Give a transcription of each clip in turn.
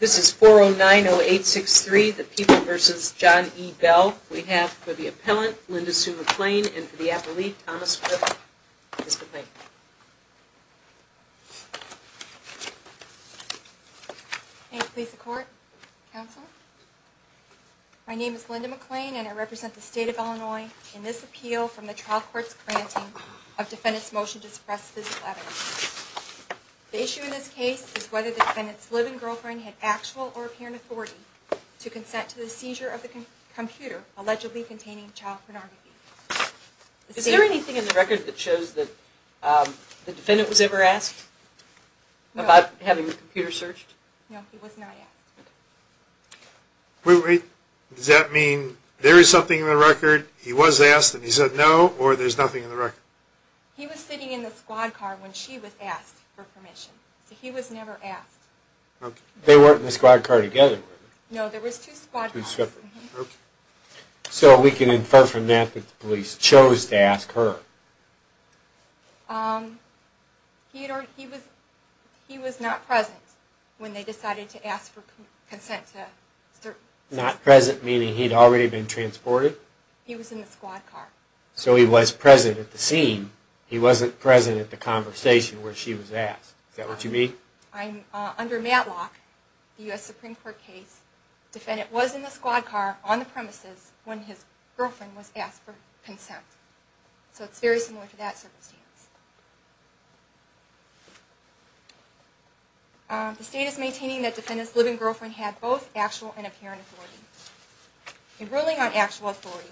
This is 4090863, the People v. John E. Bell. We have for the appellant, Linda Sue McClain, and for the appellee, Thomas Fripp. Ms. McClain. Thank you. Please support, counsel. My name is Linda McClain, and I represent the state of Illinois in this appeal from the trial court's granting of defendant's motion to suppress this letter. The issue in this case is whether defendant's living girlfriend had actual or apparent authority to consent to the seizure of the computer allegedly containing child pornography. Is there anything in the record that shows that the defendant was ever asked about having the computer searched? No, he was not asked. Wait, wait. Does that mean there is something in the record, he was asked and he said no, or there's nothing in the record? He was sitting in the squad car when she was asked for permission, so he was never asked. They weren't in the squad car together, were they? No, there was two squad cars. So we can infer from that that the police chose to ask her. He was not present when they decided to ask for consent to certain... Not present, meaning he'd already been transported? He was in the squad car. So he was present at the scene, he wasn't present at the conversation where she was asked. Is that what you mean? Under Matlock, the U.S. Supreme Court case, defendant was in the squad car on the premises when his girlfriend was asked for consent. So it's very similar to that circumstance. The state is maintaining that defendant's living girlfriend had both actual and apparent authority. In ruling on actual authority,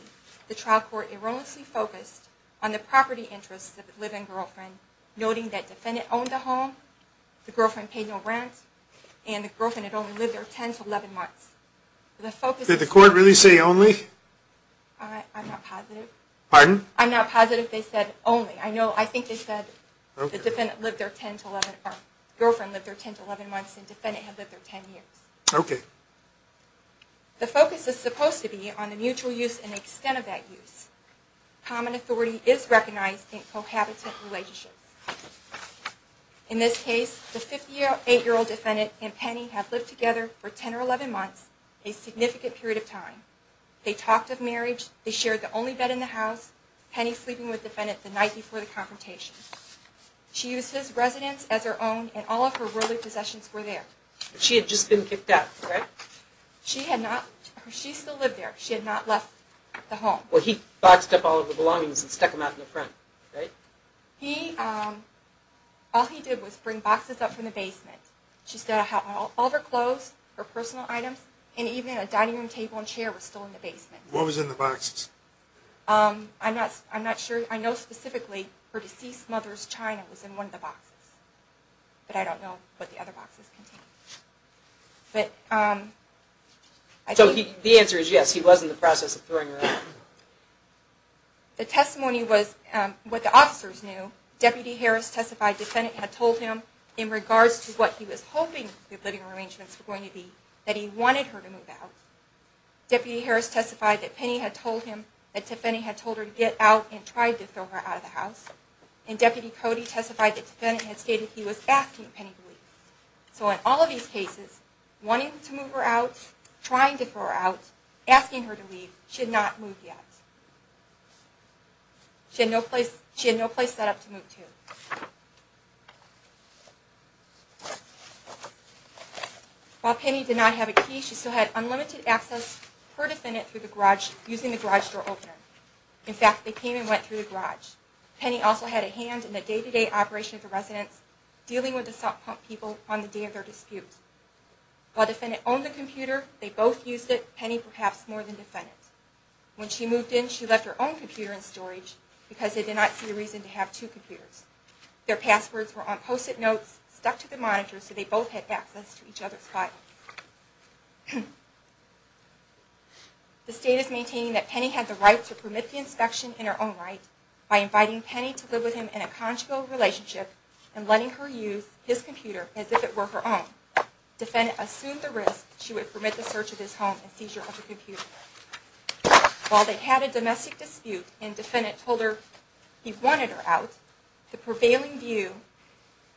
the trial court erroneously focused on the property interests of the living girlfriend, noting that defendant owned a home, the girlfriend paid no rent, and the girlfriend had only lived there 10 to 11 months. Did the court really say only? I'm not positive. Pardon? I'm not positive they said only. I think they said girlfriend lived there 10 to 11 months and defendant had lived there 10 years. Okay. The focus is supposed to be on the mutual use and extent of that use. Common authority is recognized in cohabitant relationships. In this case, the 58-year-old defendant and Penny have lived together for 10 or 11 months, a significant period of time. They talked of marriage, they shared the only bed in the house, Penny sleeping with defendant the night before the confrontation. She used his residence as her own and all of her worldly possessions were there. She had just been kicked out, right? She had not. She still lived there. She had not left the home. Well, he boxed up all of her belongings and stuck them out in the front, right? He, all he did was bring boxes up from the basement. She still had all of her clothes, her personal items, and even a dining room table and chair was still in the basement. What was in the boxes? I'm not sure. I know specifically her deceased mother's china was in one of the boxes. But I don't know what the other boxes contained. So the answer is yes, he was in the process of throwing her out. The testimony was what the officers knew. Deputy Harris testified the defendant had told him in regards to what he was hoping the living arrangements were going to be, that he wanted her to move out. Deputy Harris testified that Penny had told him that Tiffany had told her to get out and tried to throw her out of the house. And Deputy Cody testified that the defendant had stated he was asking Penny to leave. So in all of these cases, wanting to move her out, trying to throw her out, asking her to leave, she had not moved yet. She had no place set up to move to. While Penny did not have a key, she still had unlimited access to her defendant using the garage door opener. In fact, they came and went through the garage. Penny also had a hand in the day-to-day operation of the residence, dealing with the salt pump people on the day of their dispute. While the defendant owned the computer, they both used it, Penny perhaps more than the defendant. When she moved in, she left her own computer in storage because they did not see a reason to have two computers. Their passwords were on post-it notes stuck to the monitor so they both had access to each other's files. The state is maintaining that Penny had the right to permit the inspection in her own right by inviting Penny to live with him in a conjugal relationship and letting her use his computer as if it were her own. The defendant assumed the risk that she would permit the search of his home and seizure of the computer. While they had a domestic dispute and the defendant told her he wanted her out, the prevailing view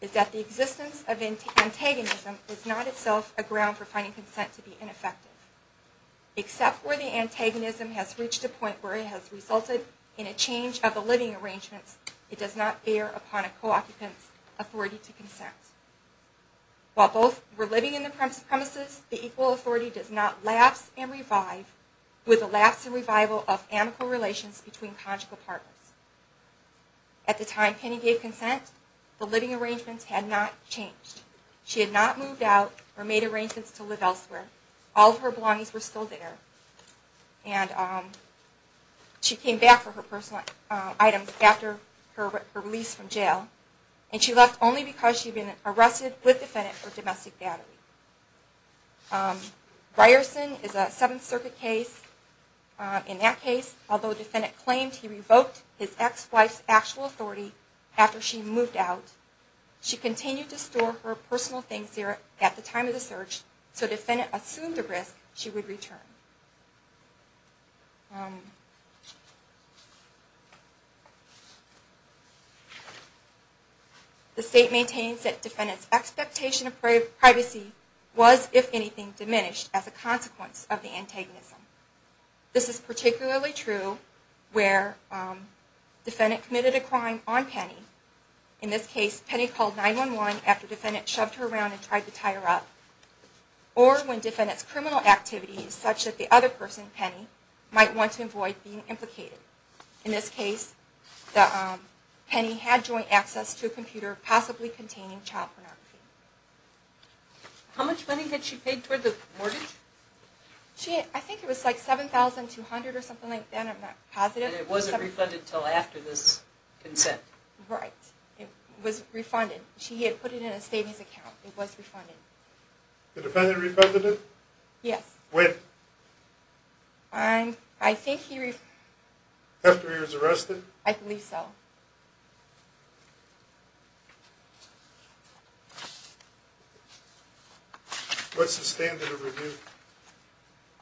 is that the existence of antagonism is not itself a ground for finding consent to be ineffective. Except where the antagonism has reached a point where it has resulted in a change of the living arrangements, it does not bear upon a co-occupant's authority to consent. While both were living in the premises, the equal authority does not lapse and revive with a lapse and revival of amical relations between conjugal partners. At the time Penny gave consent, the living arrangements had not changed. She had not moved out or made arrangements to live elsewhere. All of her belongings were still there. She came back for her personal items after her release from jail. She left only because she had been arrested with the defendant for domestic battery. Ryerson is a Seventh Circuit case. In that case, although the defendant claimed he revoked his ex-wife's actual authority after she moved out, she continued to store her personal things there at the time of the search, so the defendant assumed the risk she would return. The State maintains that the defendant's expectation of privacy was, if anything, diminished as a consequence of the antagonism. This is particularly true where the defendant committed a crime on Penny. In this case, Penny called 9-1-1 after the defendant shoved her around and tried to tie her up. Or when the defendant's criminal activities, such as sexual assault, might want to avoid being implicated. In this case, Penny had joint access to a computer possibly containing child pornography. How much money did she pay toward the mortgage? I think it was like $7,200 or something like that. I'm not positive. And it wasn't refunded until after this consent? Right. It was refunded. She had put it in a savings account. It was refunded. The defendant refunded it? Yes. When? I think he... After he was arrested? I believe so. What's the standard of review?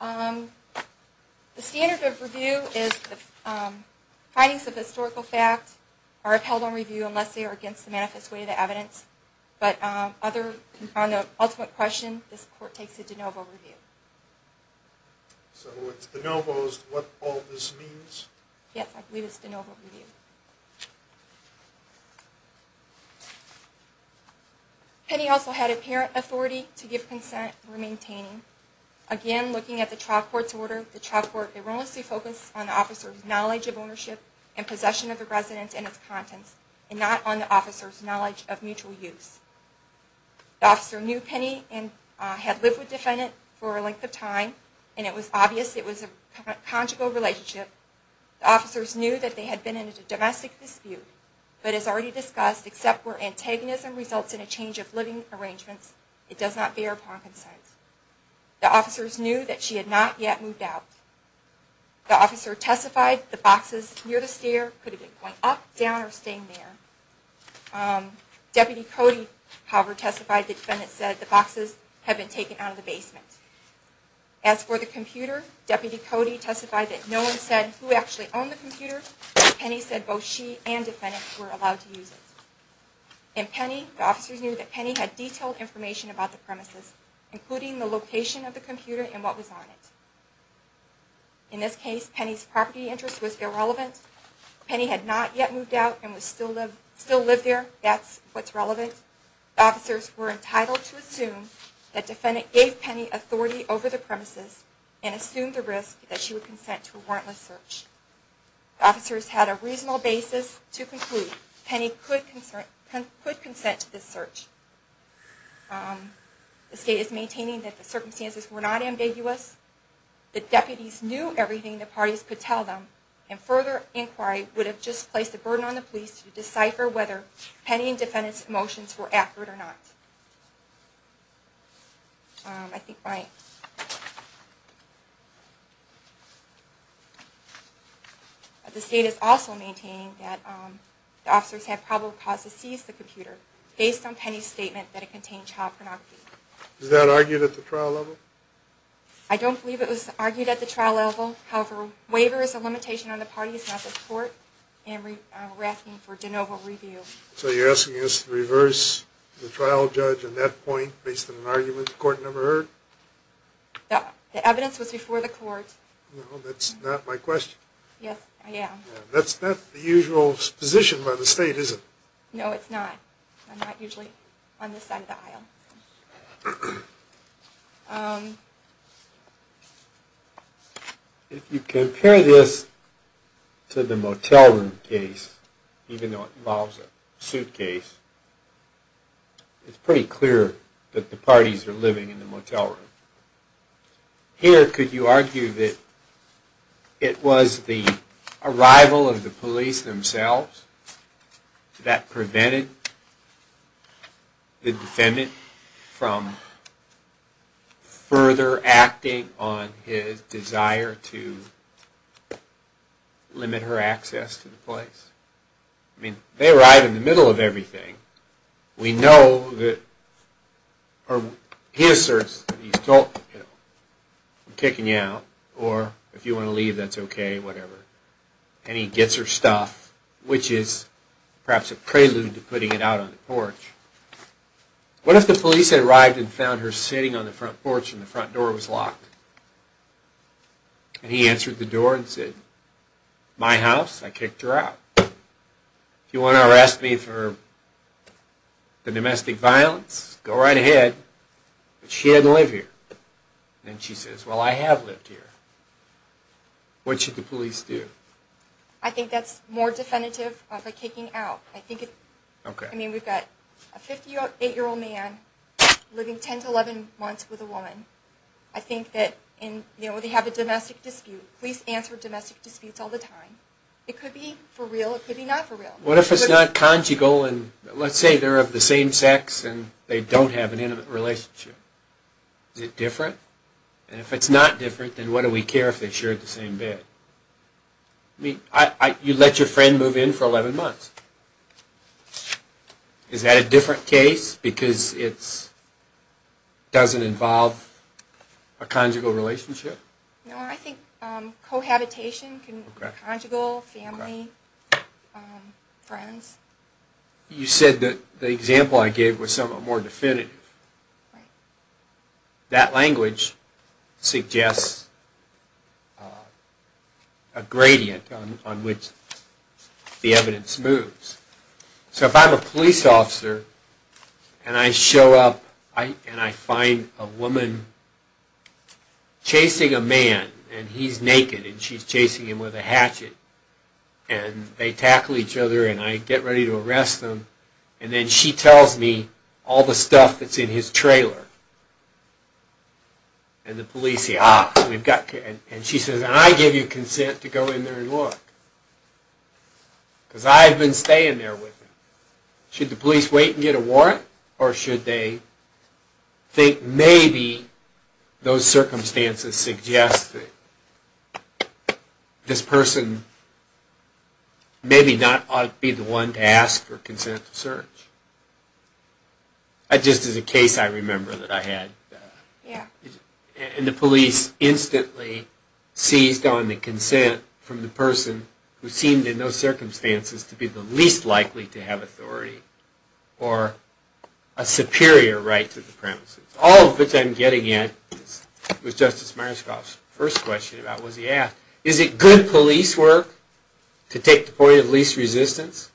The standard of review is that findings of historical fact are upheld on review unless they are against the manifest way of the evidence. But on the ultimate question, this Court takes a de novo review. So it's de novos what all this means? Yes. I believe it's de novo review. Penny also had apparent authority to give consent or maintain. Again, looking at the trial court's order, the trial court erroneously focused on the officer's knowledge of ownership and possession of the residence and its contents, and not on the officer's knowledge of mutual use. The officer knew Penny and had lived with the defendant for a length of time, and it was obvious it was a conjugal relationship. The officers knew that they had been in a domestic dispute, but as already discussed, except where antagonism results in a change of living arrangements, it does not bear upon consent. The officers knew that she had not yet moved out. The officer testified the boxes near the stair could have been going up, down, or staying there. Deputy Cody, however, testified the defendant said the boxes had been taken out of the basement. As for the computer, Deputy Cody testified that no one said who actually owned the computer, but Penny said both she and the defendant were allowed to use it. In Penny, the officers knew that Penny had detailed information about the premises, including the location of the computer and what was on it. In this case, Penny's property interest was irrelevant. Penny had not yet moved out and still lived there. That's what's relevant. The officers were entitled to assume that the defendant gave Penny authority over the premises and assumed the risk that she would consent to a warrantless search. The officers had a reasonable basis to conclude Penny could consent to this search. The state is maintaining that the circumstances were not ambiguous. The deputies knew everything the parties could tell them, and further inquiry would have just placed a burden on the police to decipher whether Penny and the defendant's emotions were accurate or not. The state is also maintaining that the officers had probable cause to seize the computer based on Penny's statement that it contained child pornography. Is that argued at the trial level? I don't believe it was argued at the trial level. However, waiver is a limitation on the parties, not the court. And we're asking for de novo review. So you're asking us to reverse the trial judge at that point based on an argument the court never heard? The evidence was before the court. No, that's not my question. Yes, I am. That's not the usual position by the state, is it? No, it's not. I'm not usually on this side of the aisle. If you compare this to the motel room case, even though it involves a suitcase, it's pretty clear that the parties are living in the motel room. Here, could you argue that it was the arrival of the police themselves that prevented the defendant from further acting on his desire to limit her access to the place? I mean, they arrive in the middle of everything. We know that, or he asserts that he's kicking you out, or if you want to leave, that's okay, whatever. And he gets her stuff, which is perhaps a prelude to putting it out on the porch. What if the police had arrived and found her sitting on the front porch and the front door was locked? And he answered the door and said, my house, I kicked her out. If you want to arrest me for the domestic violence, go right ahead. But she doesn't live here. And she says, well, I have lived here. What should the police do? I think that's more definitive of a kicking out. I mean, we've got a 58-year-old man living 10 to 11 months with a woman. I think that they have a domestic dispute. Police answer domestic disputes all the time. It could be for real, it could be not for real. What if it's not conjugal and let's say they're of the same sex and they don't have an intimate relationship? Is it different? And if it's not different, then what do we care if they share the same bed? I mean, you let your friend move in for 11 months. Is that a different case because it doesn't involve a conjugal relationship? No, I think cohabitation can be conjugal, family, friends. You said that the example I gave was somewhat more definitive. Right. That language suggests a gradient on which the evidence moves. So if I'm a police officer and I show up and I find a woman chasing a man and he's naked and she's chasing him with a hatchet and they tackle each other and I get ready to arrest them and then she tells me all the stuff that's in his trailer. And the police say, ah, we've got... and she says, I give you consent to go in there and look because I've been staying there with him. Should the police wait and get a warrant or should they think maybe those circumstances suggest that this person maybe not ought to be the one to ask for consent to search? That just is a case I remember that I had. Yeah. And the police instantly seized on the consent from the person who seemed in those circumstances to be the least likely to have authority or a superior right to the premises. All of which I'm getting at was Justice Meyerskoff's first question about what he asked. Is it good police work to take the point of least resistance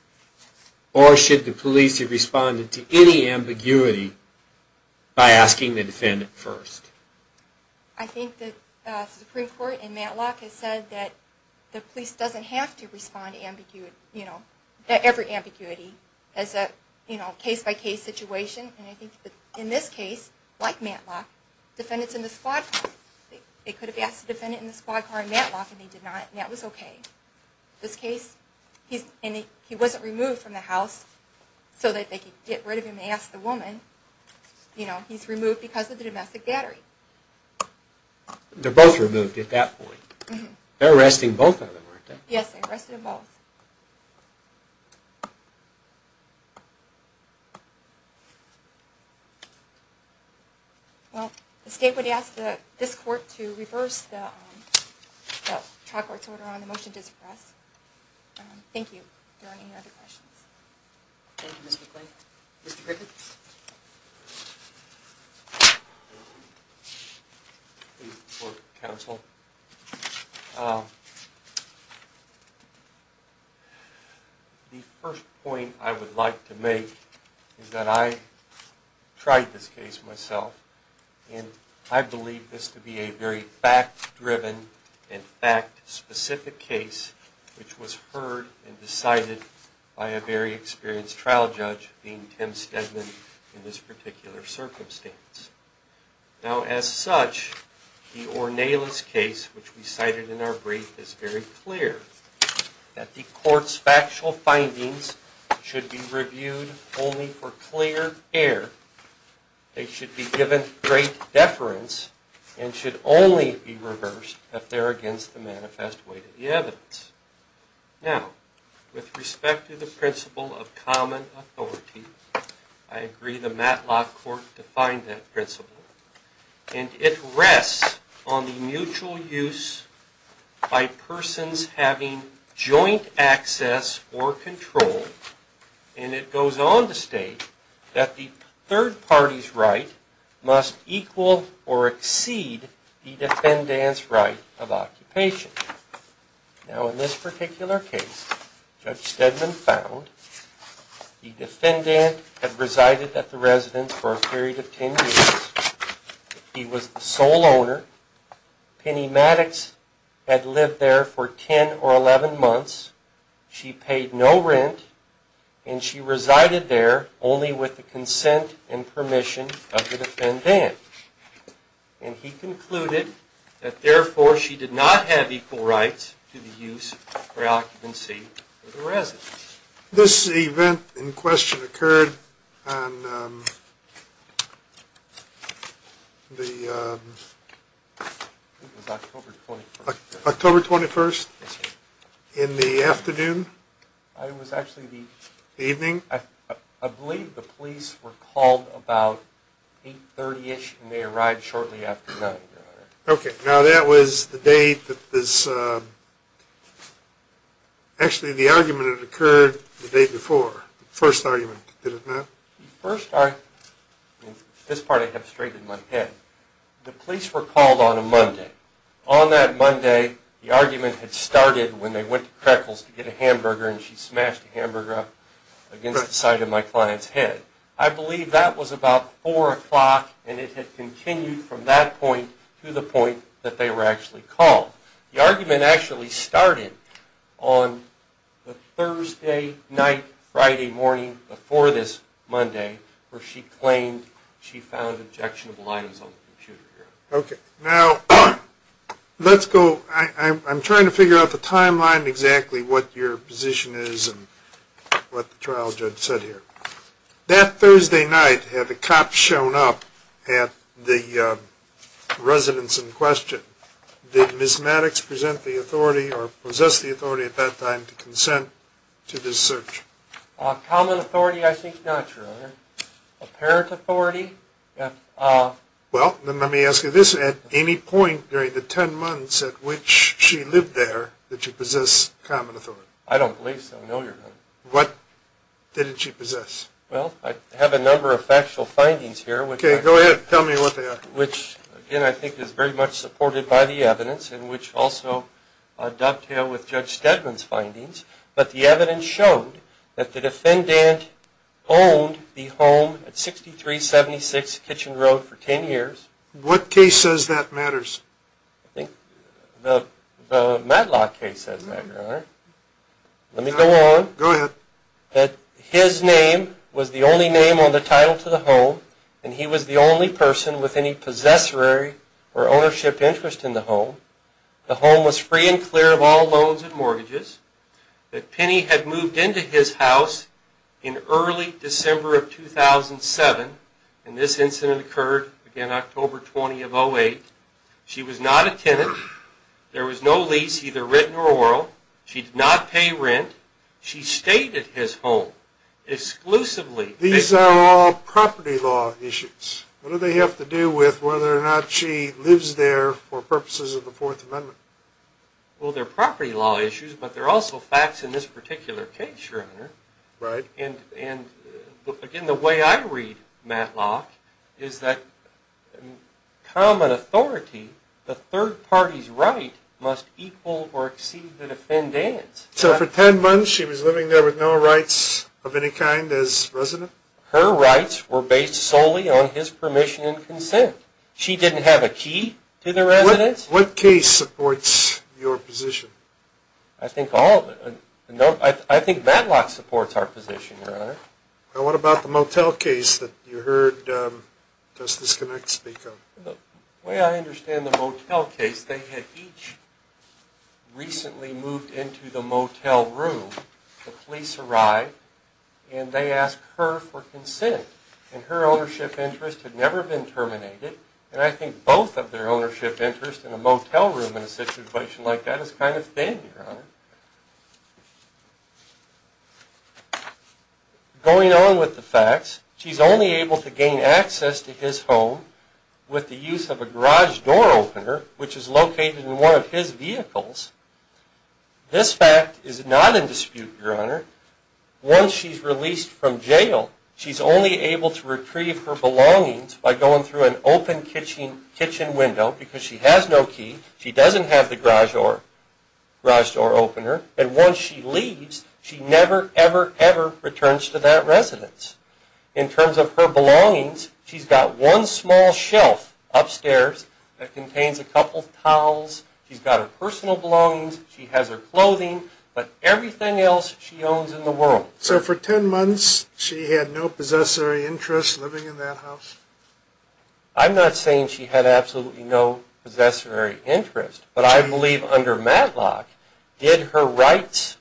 or should the police respond to any ambiguity by asking the defendant first? I think that the Supreme Court in Matlock has said that the police doesn't have to respond to ambiguity, every ambiguity as a case-by-case situation. And I think that in this case, like Matlock, defendants in the squad car, they could have asked the defendant in the squad car in Matlock and they did not and that was okay. This case, he wasn't removed from the house so that they could get rid of him and ask the woman. You know, he's removed because of the domestic battery. They're both removed at that point. They're arresting both of them, aren't they? Yes, they arrested them both. Well, the state would ask this court to reverse the trial court's order on the motion to suppress. Thank you. Are there any other questions? Thank you, Ms. McClain. Mr. Griffiths? Thank you, Court Counsel. The first point I would like to make is that I tried this case myself and I believe this to be a very fact-driven and fact-specific case, which was heard and decided by a very experienced trial judge, being Tim Stedman in this particular circumstance. Now, as such, the Ornelas case, which we cited in our brief, is very clear, that the court's factual findings should be reviewed only for clear air. They should be given great deference and should only be reversed if they're against the manifest way to the evidence. Now, with respect to the principle of common authority, I agree the Matlock court defined that principle, and it rests on the mutual use by persons having joint access or control, and it goes on to state that the third party's right must equal or exceed the defendant's right of occupation. Now, in this particular case, Judge Stedman found the defendant had resided at the residence for a period of 10 years. He was the sole owner. Penny Maddox had lived there for 10 or 11 months. She paid no rent, and she resided there only with the consent and permission of the defendant. And he concluded that, therefore, she did not have equal rights to the use or occupancy of the residence. This event in question occurred on the October 21st in the afternoon? It was actually the evening. I believe the police were called about 8.30ish, and they arrived shortly after 9. Okay. Now, that was the day that this – actually, the argument had occurred the day before. The first argument, did it not? The first – this part I have straight in my head. The police were called on a Monday. On that Monday, the argument had started when they went to Crackles to get a hamburger, and she smashed a hamburger up against the side of my client's head. I believe that was about 4 o'clock, and it had continued from that point to the point that they were actually called. The argument actually started on the Thursday night, Friday morning, before this Monday, where she claimed she found objectionable items on the computer. Okay. Now, let's go – I'm trying to figure out the timeline to understand exactly what your position is and what the trial judge said here. That Thursday night, had the cops shown up at the residence in question, did Ms. Maddox present the authority or possess the authority at that time to consent to this search? Common authority, I think not, Your Honor. Apparent authority? Well, then let me ask you this. Was it at any point during the 10 months at which she lived there that she possessed common authority? I don't believe so, no, Your Honor. What did she possess? Well, I have a number of factual findings here. Okay, go ahead. Tell me what they are. Which, again, I think is very much supported by the evidence, and which also dovetail with Judge Steadman's findings. But the evidence showed that the defendant owned the home at 6376 Kitchen Road for 10 years. What case says that matters? I think the Matlock case says that, Your Honor. Let me go on. Go ahead. That his name was the only name on the title to the home, and he was the only person with any possessory or ownership interest in the home. The home was free and clear of all loans and mortgages. That Penny had moved into his house in early December of 2007, and this incident occurred, again, October 20 of 2008. She was not a tenant. There was no lease, either written or oral. She did not pay rent. She stayed at his home exclusively. These are all property law issues. What do they have to do with whether or not she lives there for purposes of the Fourth Amendment? Well, they're property law issues, but they're also facts in this particular case, Your Honor. Right. Again, the way I read Matlock is that common authority, the third party's right, must equal or exceed the defendant's. So for 10 months she was living there with no rights of any kind as resident? Her rights were based solely on his permission and consent. She didn't have a key to the residence. What case supports your position? I think all of them. I think Matlock supports our position, Your Honor. What about the motel case that you heard Justice Connacht speak of? The way I understand the motel case, they had each recently moved into the motel room. The police arrived, and they asked her for consent, and her ownership interest had never been terminated. And I think both of their ownership interests in a motel room in a situation like that is kind of thin, Your Honor. Going on with the facts, she's only able to gain access to his home with the use of a garage door opener, which is located in one of his vehicles. This fact is not in dispute, Your Honor. Once she's released from jail, she's only able to retrieve her belongings by going through an open kitchen window because she has no key. She doesn't have the garage door opener. And once she leaves, she never, ever, ever returns to that residence. In terms of her belongings, she's got one small shelf upstairs that contains a couple of towels. She's got her personal belongings. She has her clothing, but everything else she owns in the world. So for 10 months, she had no possessory interest living in that house? I'm not saying she had absolutely no possessory interest, but I believe under Matlock, did her rights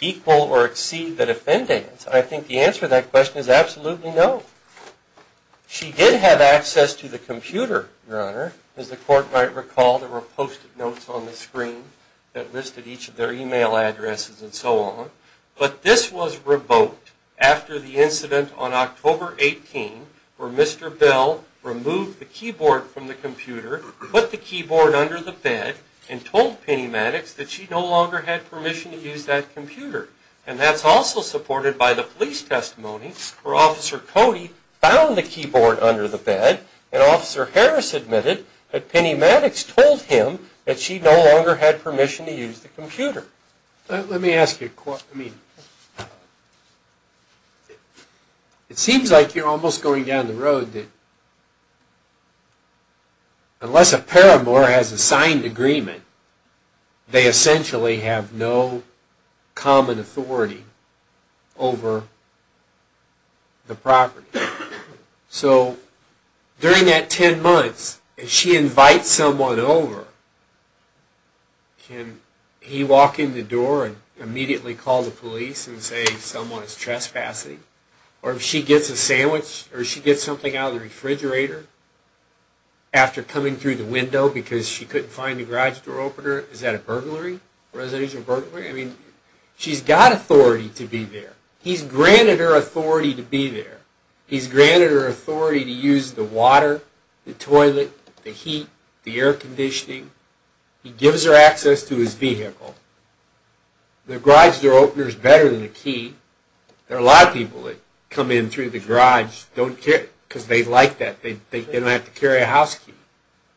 equal or exceed the defendant's? I think the answer to that question is absolutely no. She did have access to the computer, Your Honor. As the court might recall, there were post-it notes on the screen that listed each of their e-mail addresses and so on. But this was revoked after the incident on October 18 where Mr. Bell removed the keyboard from the computer, put the keyboard under the bed, and told Penny Maddox that she no longer had permission to use that computer. And that's also supported by the police testimony where Officer Cody found the keyboard under the bed, and Officer Harris admitted that Penny Maddox told him that she no longer had permission to use the computer. Let me ask you a question. It seems like you're almost going down the road that unless a paramour has a signed agreement, they essentially have no common authority over the property. So during that 10 months, if she invites someone over, can he walk in the door and immediately call the police and say someone is trespassing? Or if she gets a sandwich or she gets something out of the refrigerator after coming through the window because she couldn't find the garage door opener, is that a burglary, residential burglary? She's got authority to be there. He's granted her authority to be there. He's granted her authority to use the water, the toilet, the heat, the air conditioning. He gives her access to his vehicle. The garage door opener is better than a key. There are a lot of people that come in through the garage because they like that. They don't have to carry a house key.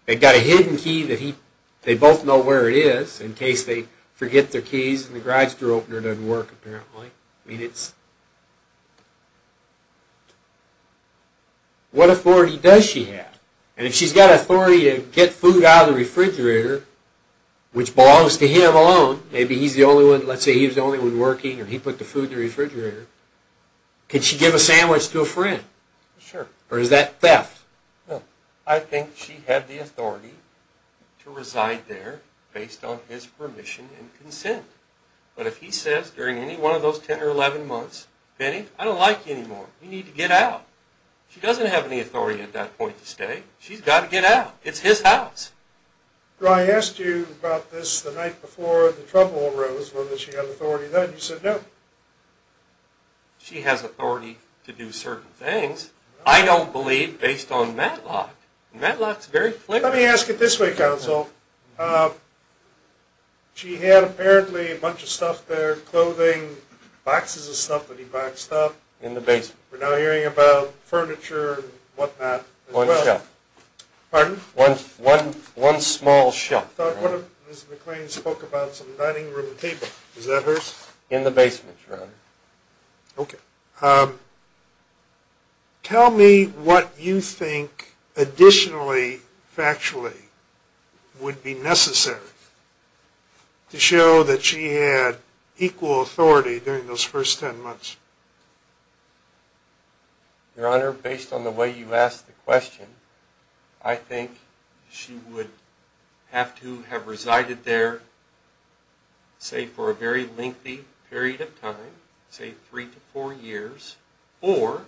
They've got a hidden key that they both know where it is in case they forget their keys and the garage door opener doesn't work apparently. What authority does she have? And if she's got authority to get food out of the refrigerator, which belongs to him alone, maybe he's the only one, let's say he's the only one working or he put the food in the refrigerator, can she give a sandwich to a friend? Or is that theft? I think she had the authority to reside there based on his permission and consent. But if he says during any one of those 10 or 11 months, Benny, I don't like you anymore. You need to get out. She doesn't have any authority at that point to stay. She's got to get out. It's his house. I asked you about this the night before the trouble arose, whether she had authority then. You said no. She has authority to do certain things, I don't believe, based on Matlock. Matlock's very clear. Let me ask it this way, counsel. She had apparently a bunch of stuff there, clothing, boxes of stuff that he packed stuff. In the basement. We're now hearing about furniture and whatnot as well. One shelf. Pardon? One small shelf. I thought one of Ms. McClain's spoke about some dining room table. Is that hers? In the basement, Your Honor. Okay. Tell me what you think additionally, factually, would be necessary to show that she had equal authority during those first ten months? Your Honor, based on the way you asked the question, I think she would have to have resided there, say, for a very lengthy period of time, say three to four years, or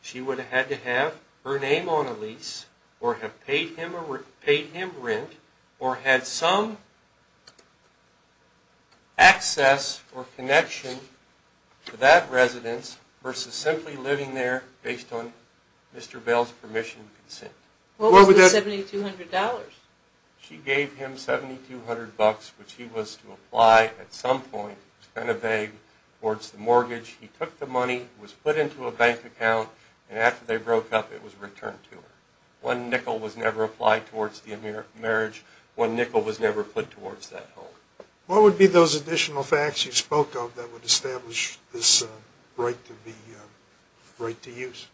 she would have had to have her name on a lease or have paid him rent or had some access or connection to that residence versus simply living there based on Mr. Bell's permission and consent. What was the $7,200? She gave him $7,200, which he was to apply at some point, it was kind of vague, towards the mortgage. He took the money, it was put into a bank account, and after they broke up, it was returned to her. One nickel was never applied towards the marriage. One nickel was never put towards that home. What would be those additional facts you spoke of that would establish this right to use?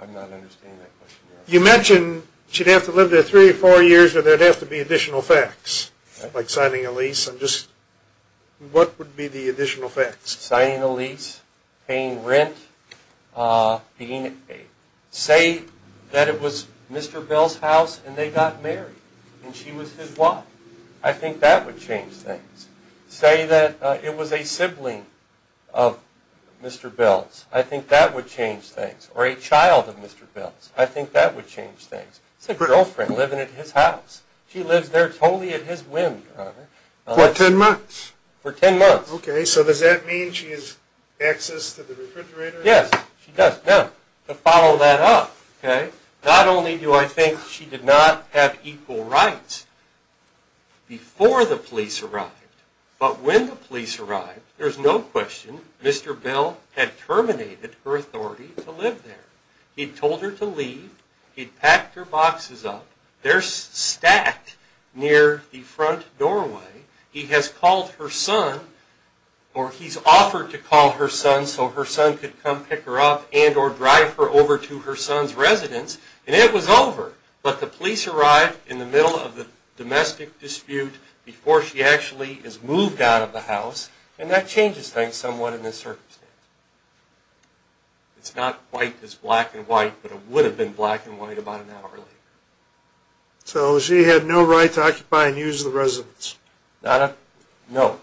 I'm not understanding that question, Your Honor. You mentioned she'd have to live there three or four years, or there'd have to be additional facts, like signing a lease. What would be the additional facts? Signing a lease, paying rent, being paid. Say that it was Mr. Bell's house, and they got married, and she was his wife. I think that would change things. Say that it was a sibling of Mr. Bell's. I think that would change things. Or a child of Mr. Bell's. I think that would change things. It's a girlfriend living at his house. She lives there totally at his whim, Your Honor. For 10 months? For 10 months. Okay, so does that mean she has access to the refrigerator? Yes, she does. Now, to follow that up, okay, not only do I think she did not have equal rights before the police arrived, but when the police arrived, there's no question Mr. Bell had terminated her authority to live there. He'd told her to leave. He'd packed her boxes up. They're stacked near the front doorway. He has called her son, or he's offered to call her son so her son could come pick her up and or drive her over to her son's residence, and it was over. But the police arrived in the middle of the domestic dispute before she actually is moved out of the house, and that changes things somewhat in this circumstance. It's not quite as black and white, but it would have been black and white about an hour later. So she had no right to occupy and use the residence? No, Your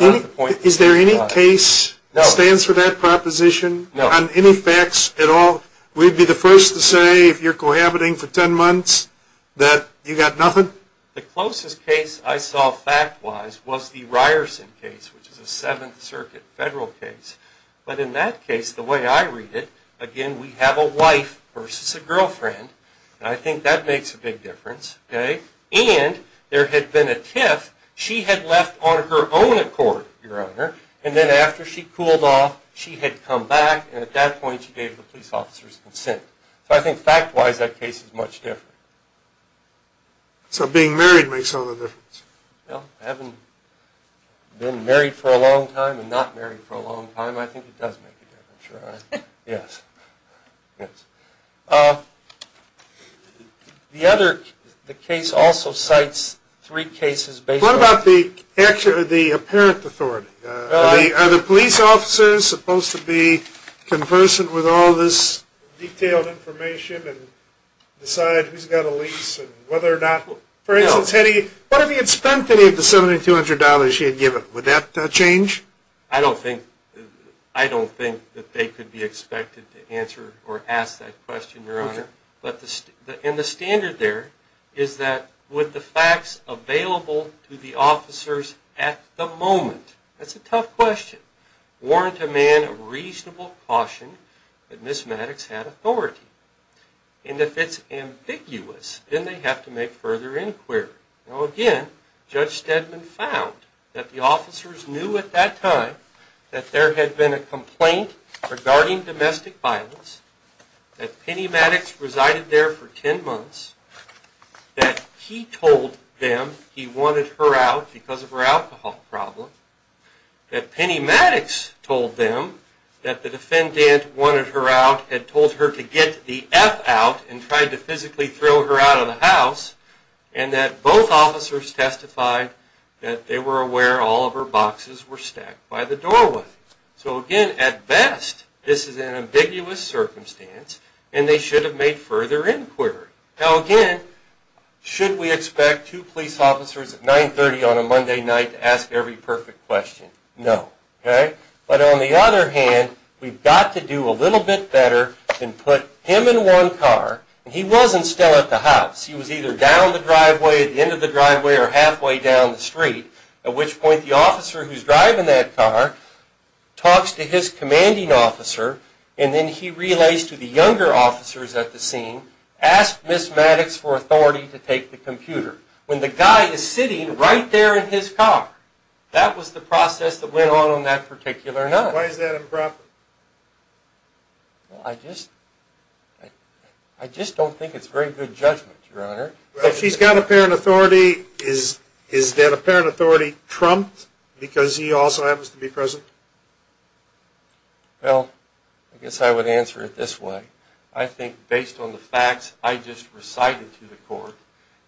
Honor. Is there any case that stands for that proposition? No. On any facts at all? Would you be the first to say if you're cohabiting for 10 months that you got nothing? The closest case I saw fact-wise was the Ryerson case, which is a Seventh Circuit federal case. But in that case, the way I read it, again, we have a wife versus a girlfriend, and I think that makes a big difference. And there had been a tiff. She had left on her own accord, Your Honor, and then after she cooled off, she had come back, and at that point she gave the police officer's consent. So I think fact-wise that case is much different. So being married makes all the difference? Well, having been married for a long time and not married for a long time, I think it does make a difference, Your Honor. Yes. The case also cites three cases based on... What about the apparent authority? Are the police officers supposed to be conversant with all this detailed information and decide who's got a lease and whether or not... For instance, what if he had spent any of the $7,200 he had given? Would that change? I don't think... I don't think that they could be expected to answer or ask that question, Your Honor. And the standard there is that with the facts available to the officers at the moment, that's a tough question, warrant a man a reasonable caution that Miss Maddox had authority. And if it's ambiguous, then they have to make further inquiry. Now, again, Judge Stedman found that the officers knew at that time that there had been a complaint regarding domestic violence, that Penny Maddox resided there for 10 months, that he told them he wanted her out because of her alcohol problem, that Penny Maddox told them that the defendant wanted her out, had told her to get the F out and tried to physically throw her out of the house, and that both officers testified that they were aware all of her boxes were stacked by the doorway. So, again, at best, this is an ambiguous circumstance and they should have made further inquiry. Now, again, should we expect two police officers at 9.30 on a Monday night to ask every perfect question? No. Okay? But on the other hand, we've got to do a little bit better than put him in one car, and he wasn't still at the house. He was either down the driveway, at the end of the driveway, or halfway down the street, at which point the officer who's driving that car talks to his commanding officer, and then he relays to the younger officers at the scene, asks Miss Maddox for authority to take the computer, when the guy is sitting right there in his car. That was the process that went on on that particular night. Why is that improper? Well, I just... I just don't think it's very good judgment, Your Honor. If she's got apparent authority, is that apparent authority trumped because he also happens to be present? Well, I guess I would answer it this way. I think, based on the facts I just recited to the court,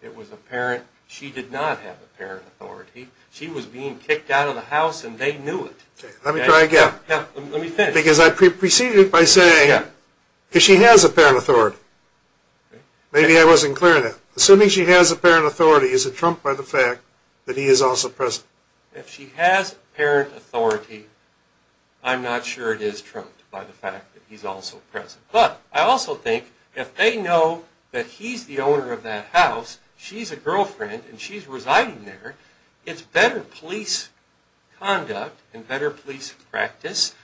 it was apparent she did not have apparent authority. She was being kicked out of the house, and they knew it. Let me try again. Because I preceded it by saying, if she has apparent authority. Maybe I wasn't clear enough. Assuming she has apparent authority, is it trumped by the fact that he is also present? If she has apparent authority, I'm not sure it is trumped by the fact that he's also present. But I also think, if they know that he's the owner of that house, she's a girlfriend, and she's residing there, it's better police conduct and better police practice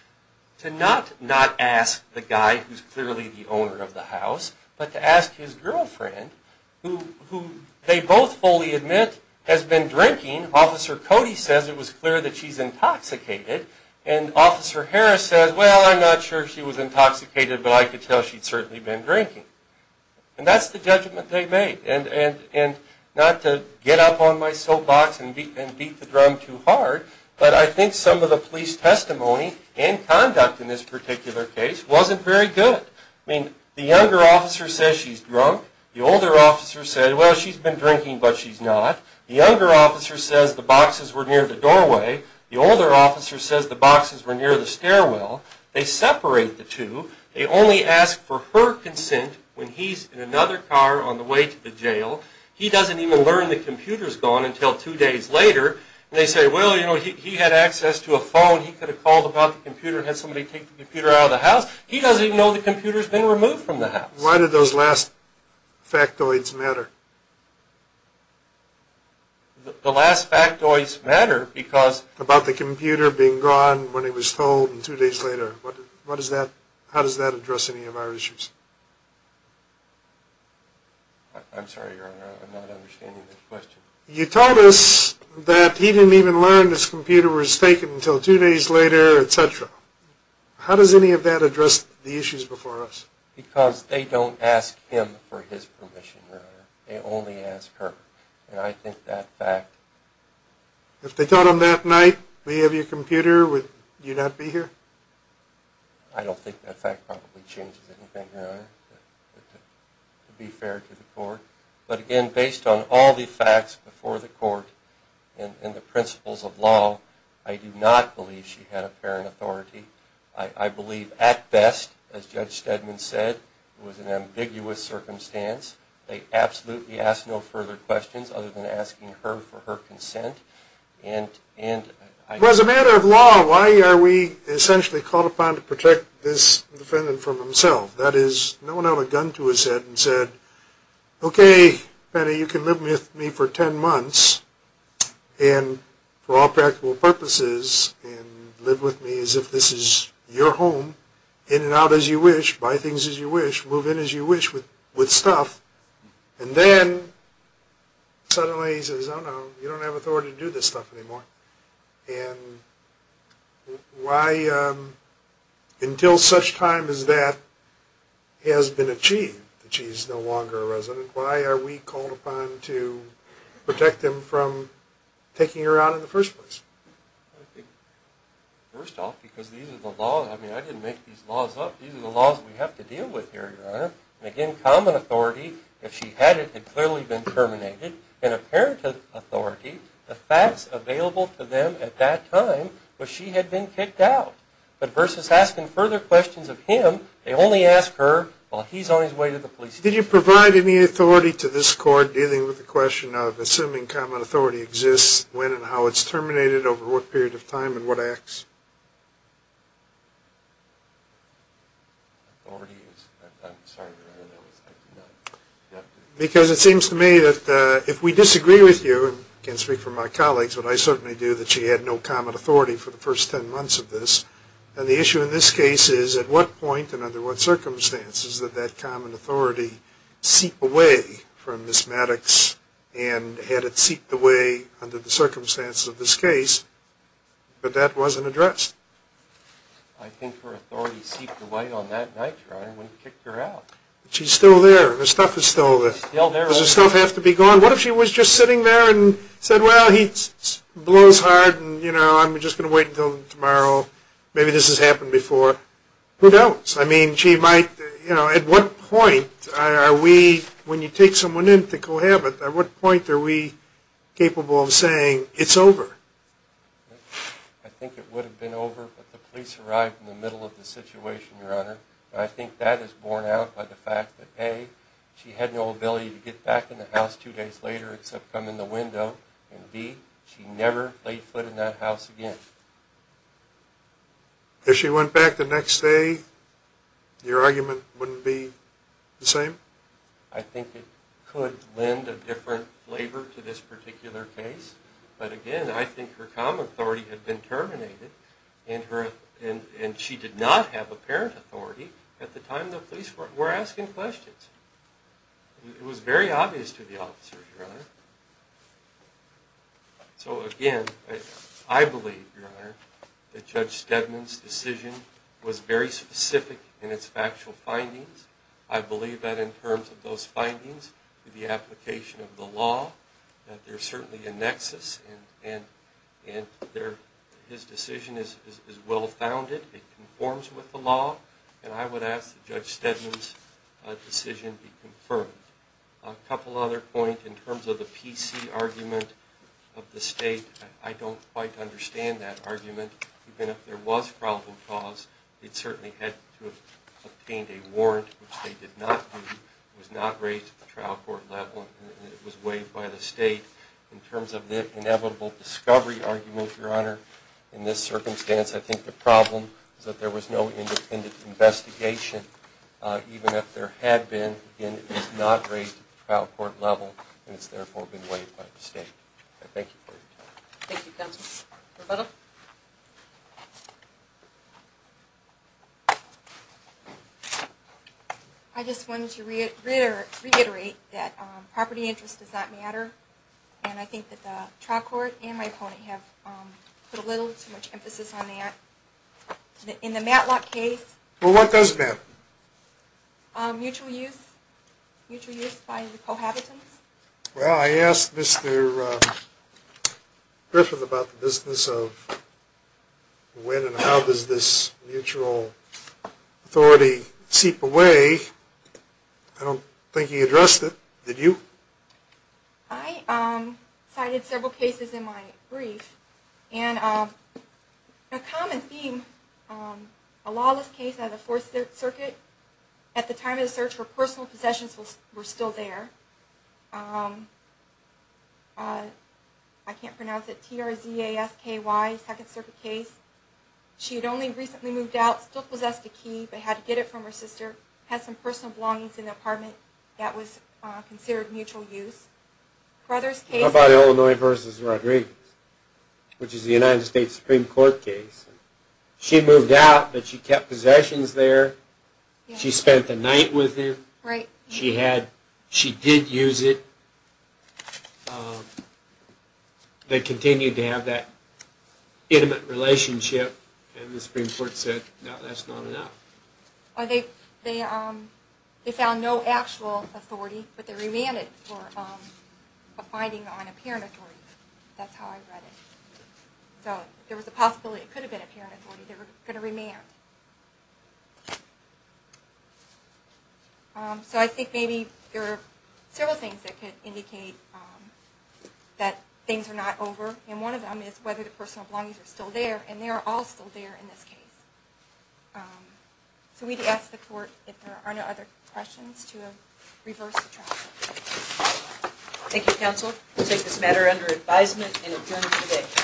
to not not ask the guy who's clearly the owner of the house, but to ask his girlfriend, who they both fully admit has been drinking. Officer Cody says it was clear that she's intoxicated, and Officer Harris says, well, I'm not sure she was intoxicated, but I could tell she'd certainly been drinking. And that's the judgment they made. Not to get up on my soapbox and beat the drum too hard, but I think some of the police testimony and conduct in this particular case wasn't very good. The younger officer says she's drunk. The older officer says, well, she's been drinking, but she's not. The younger officer says the boxes were near the doorway. The older officer says the boxes were near the stairwell. They separate the two. They only ask for her consent when he's in another car on the way to the jail. He doesn't even learn the computer's gone until two days later, and they say, well, you know, he had access to a phone. He could have called about the computer, had somebody take the computer out of the house. He doesn't even know the computer's been removed from the house. Why did those last factoids matter? The last factoids matter because... About the computer being gone when it was told two days later. How does that address any of our issues? I'm sorry, Your Honor, I'm not understanding this question. You told us that he didn't even learn his computer was taken until two days later, et cetera. How does any of that address the issues before us? Because they don't ask him for his permission, Your Honor. They only ask her. And I think that fact... If they told him that night, we have your computer, would you not be here? I don't think that fact probably changes anything, Your Honor, to be fair to the court. But again, based on all the facts before the court and the principles of law, I do not believe she had apparent authority. I believe at best, as Judge Steadman said, it was an ambiguous circumstance. They absolutely asked no further questions other than asking her for her consent. As a matter of law, why are we essentially called upon to protect this defendant from himself? That is, no one held a gun to his head and said, Okay, Penny, you can live with me for ten months and for all practical purposes and live with me as if this is your home, in and out as you wish, buy things as you wish, move in as you wish with stuff. And then suddenly he says, Oh no, you don't have authority to do this stuff anymore. And why, until such time as that has been achieved, that she is no longer a resident, why are we called upon to protect him from taking her out in the first place? I think, first off, because these are the laws... I mean, I didn't make these laws up. These are the laws we have to deal with here, Your Honor. And again, common authority, if she had it, had clearly been terminated. And apparent authority, the facts available to them at that time was she had been kicked out. But versus asking further questions of him, they only ask her while he's on his way to the police station. Did you provide any authority to this Court dealing with the question of assuming common authority exists, when and how it's terminated, over what period of time and what acts? Because it seems to me that if we disagree with you, and I can't speak for my colleagues, but I certainly do, that she had no common authority for the first ten months of this. And the issue in this case is, at what point and under what circumstances did that common authority seep away from Ms. Maddox and had it seeped away under the circumstances of this case? But that wasn't addressed. I think her authority seeped away on that night, Your Honor, when you kicked her out. But she's still there, her stuff is still there. Does her stuff have to be gone? What if she was just sitting there and said, well, he blows hard and I'm just going to wait until tomorrow, maybe this has happened before. Who knows? I mean, she might, you know, at what point are we, when you take someone in to cohabit, at what point are we capable of saying it's over? I think it would have been over if the police arrived in the middle of the situation, Your Honor. I think that is borne out by the fact that, A, she had no ability to get back in the house two days later except come in the window, and B, she never played foot in that house again. If she went back the next day, your argument wouldn't be the same? I think it could lend a different flavor to this particular case. But again, I think her common authority had been terminated, and she did not have apparent authority at the time the police were asking questions. It was very obvious to the officers, Your Honor. So again, I believe, Your Honor, that Judge Stedman's decision was very specific in its factual findings. I believe that in terms of those findings, the application of the law, that there's certainly a nexus, and his decision is well-founded. It conforms with the law, and I would ask that Judge Stedman's decision be confirmed. A couple other points. In terms of the PC argument of the State, I don't quite understand that argument. Even if there was problem cause, it certainly had to have obtained a warrant, which they did not do. It was not raised at the trial court level, and it was waived by the State. In terms of the inevitable discovery argument, Your Honor, in this circumstance, I think the problem is that there was no independent investigation, even if there had been. Again, it was not raised at the trial court level, and it's therefore been waived by the State. Thank you for your time. Thank you, Counsel. Roberta? I just wanted to reiterate that property interest does not matter, and I think that the trial court and my opponent have put a little too much emphasis on that. In the Matlock case... Well, what does matter? Mutual use. Mutual use by the cohabitants. Well, I asked Mr. Griffin about the business of when and how does this mutual authority seep away. I don't think he addressed it. Did you? I cited several cases in my brief, and a common theme, a lawless case out of the Fourth Circuit, at the time of the search, her personal possessions were still there. I can't pronounce it, T-R-Z-A-S-K-Y, Second Circuit case. She had only recently moved out, still possessed a key, but had to get it from her sister, had some personal belongings in the apartment that was considered mutual use. Brother's case... How about Illinois v. Rodriguez, which is the United States Supreme Court case? She moved out, but she kept possessions there. She spent the night with him. She did use it. They continued to have that intimate relationship, and the Supreme Court said, no, that's not enough. They found no actual authority, but they remanded for a finding on apparent authority. That's how I read it. So there was a possibility it could have been apparent authority. They were going to remand. So I think maybe there are several things that could indicate that things are not over, and one of them is whether the personal belongings are still there, and they are all still there in this case. So we'd ask the court if there are no other questions to reverse the trial. Thank you, counsel. We'll take this matter under advisement and adjourn today.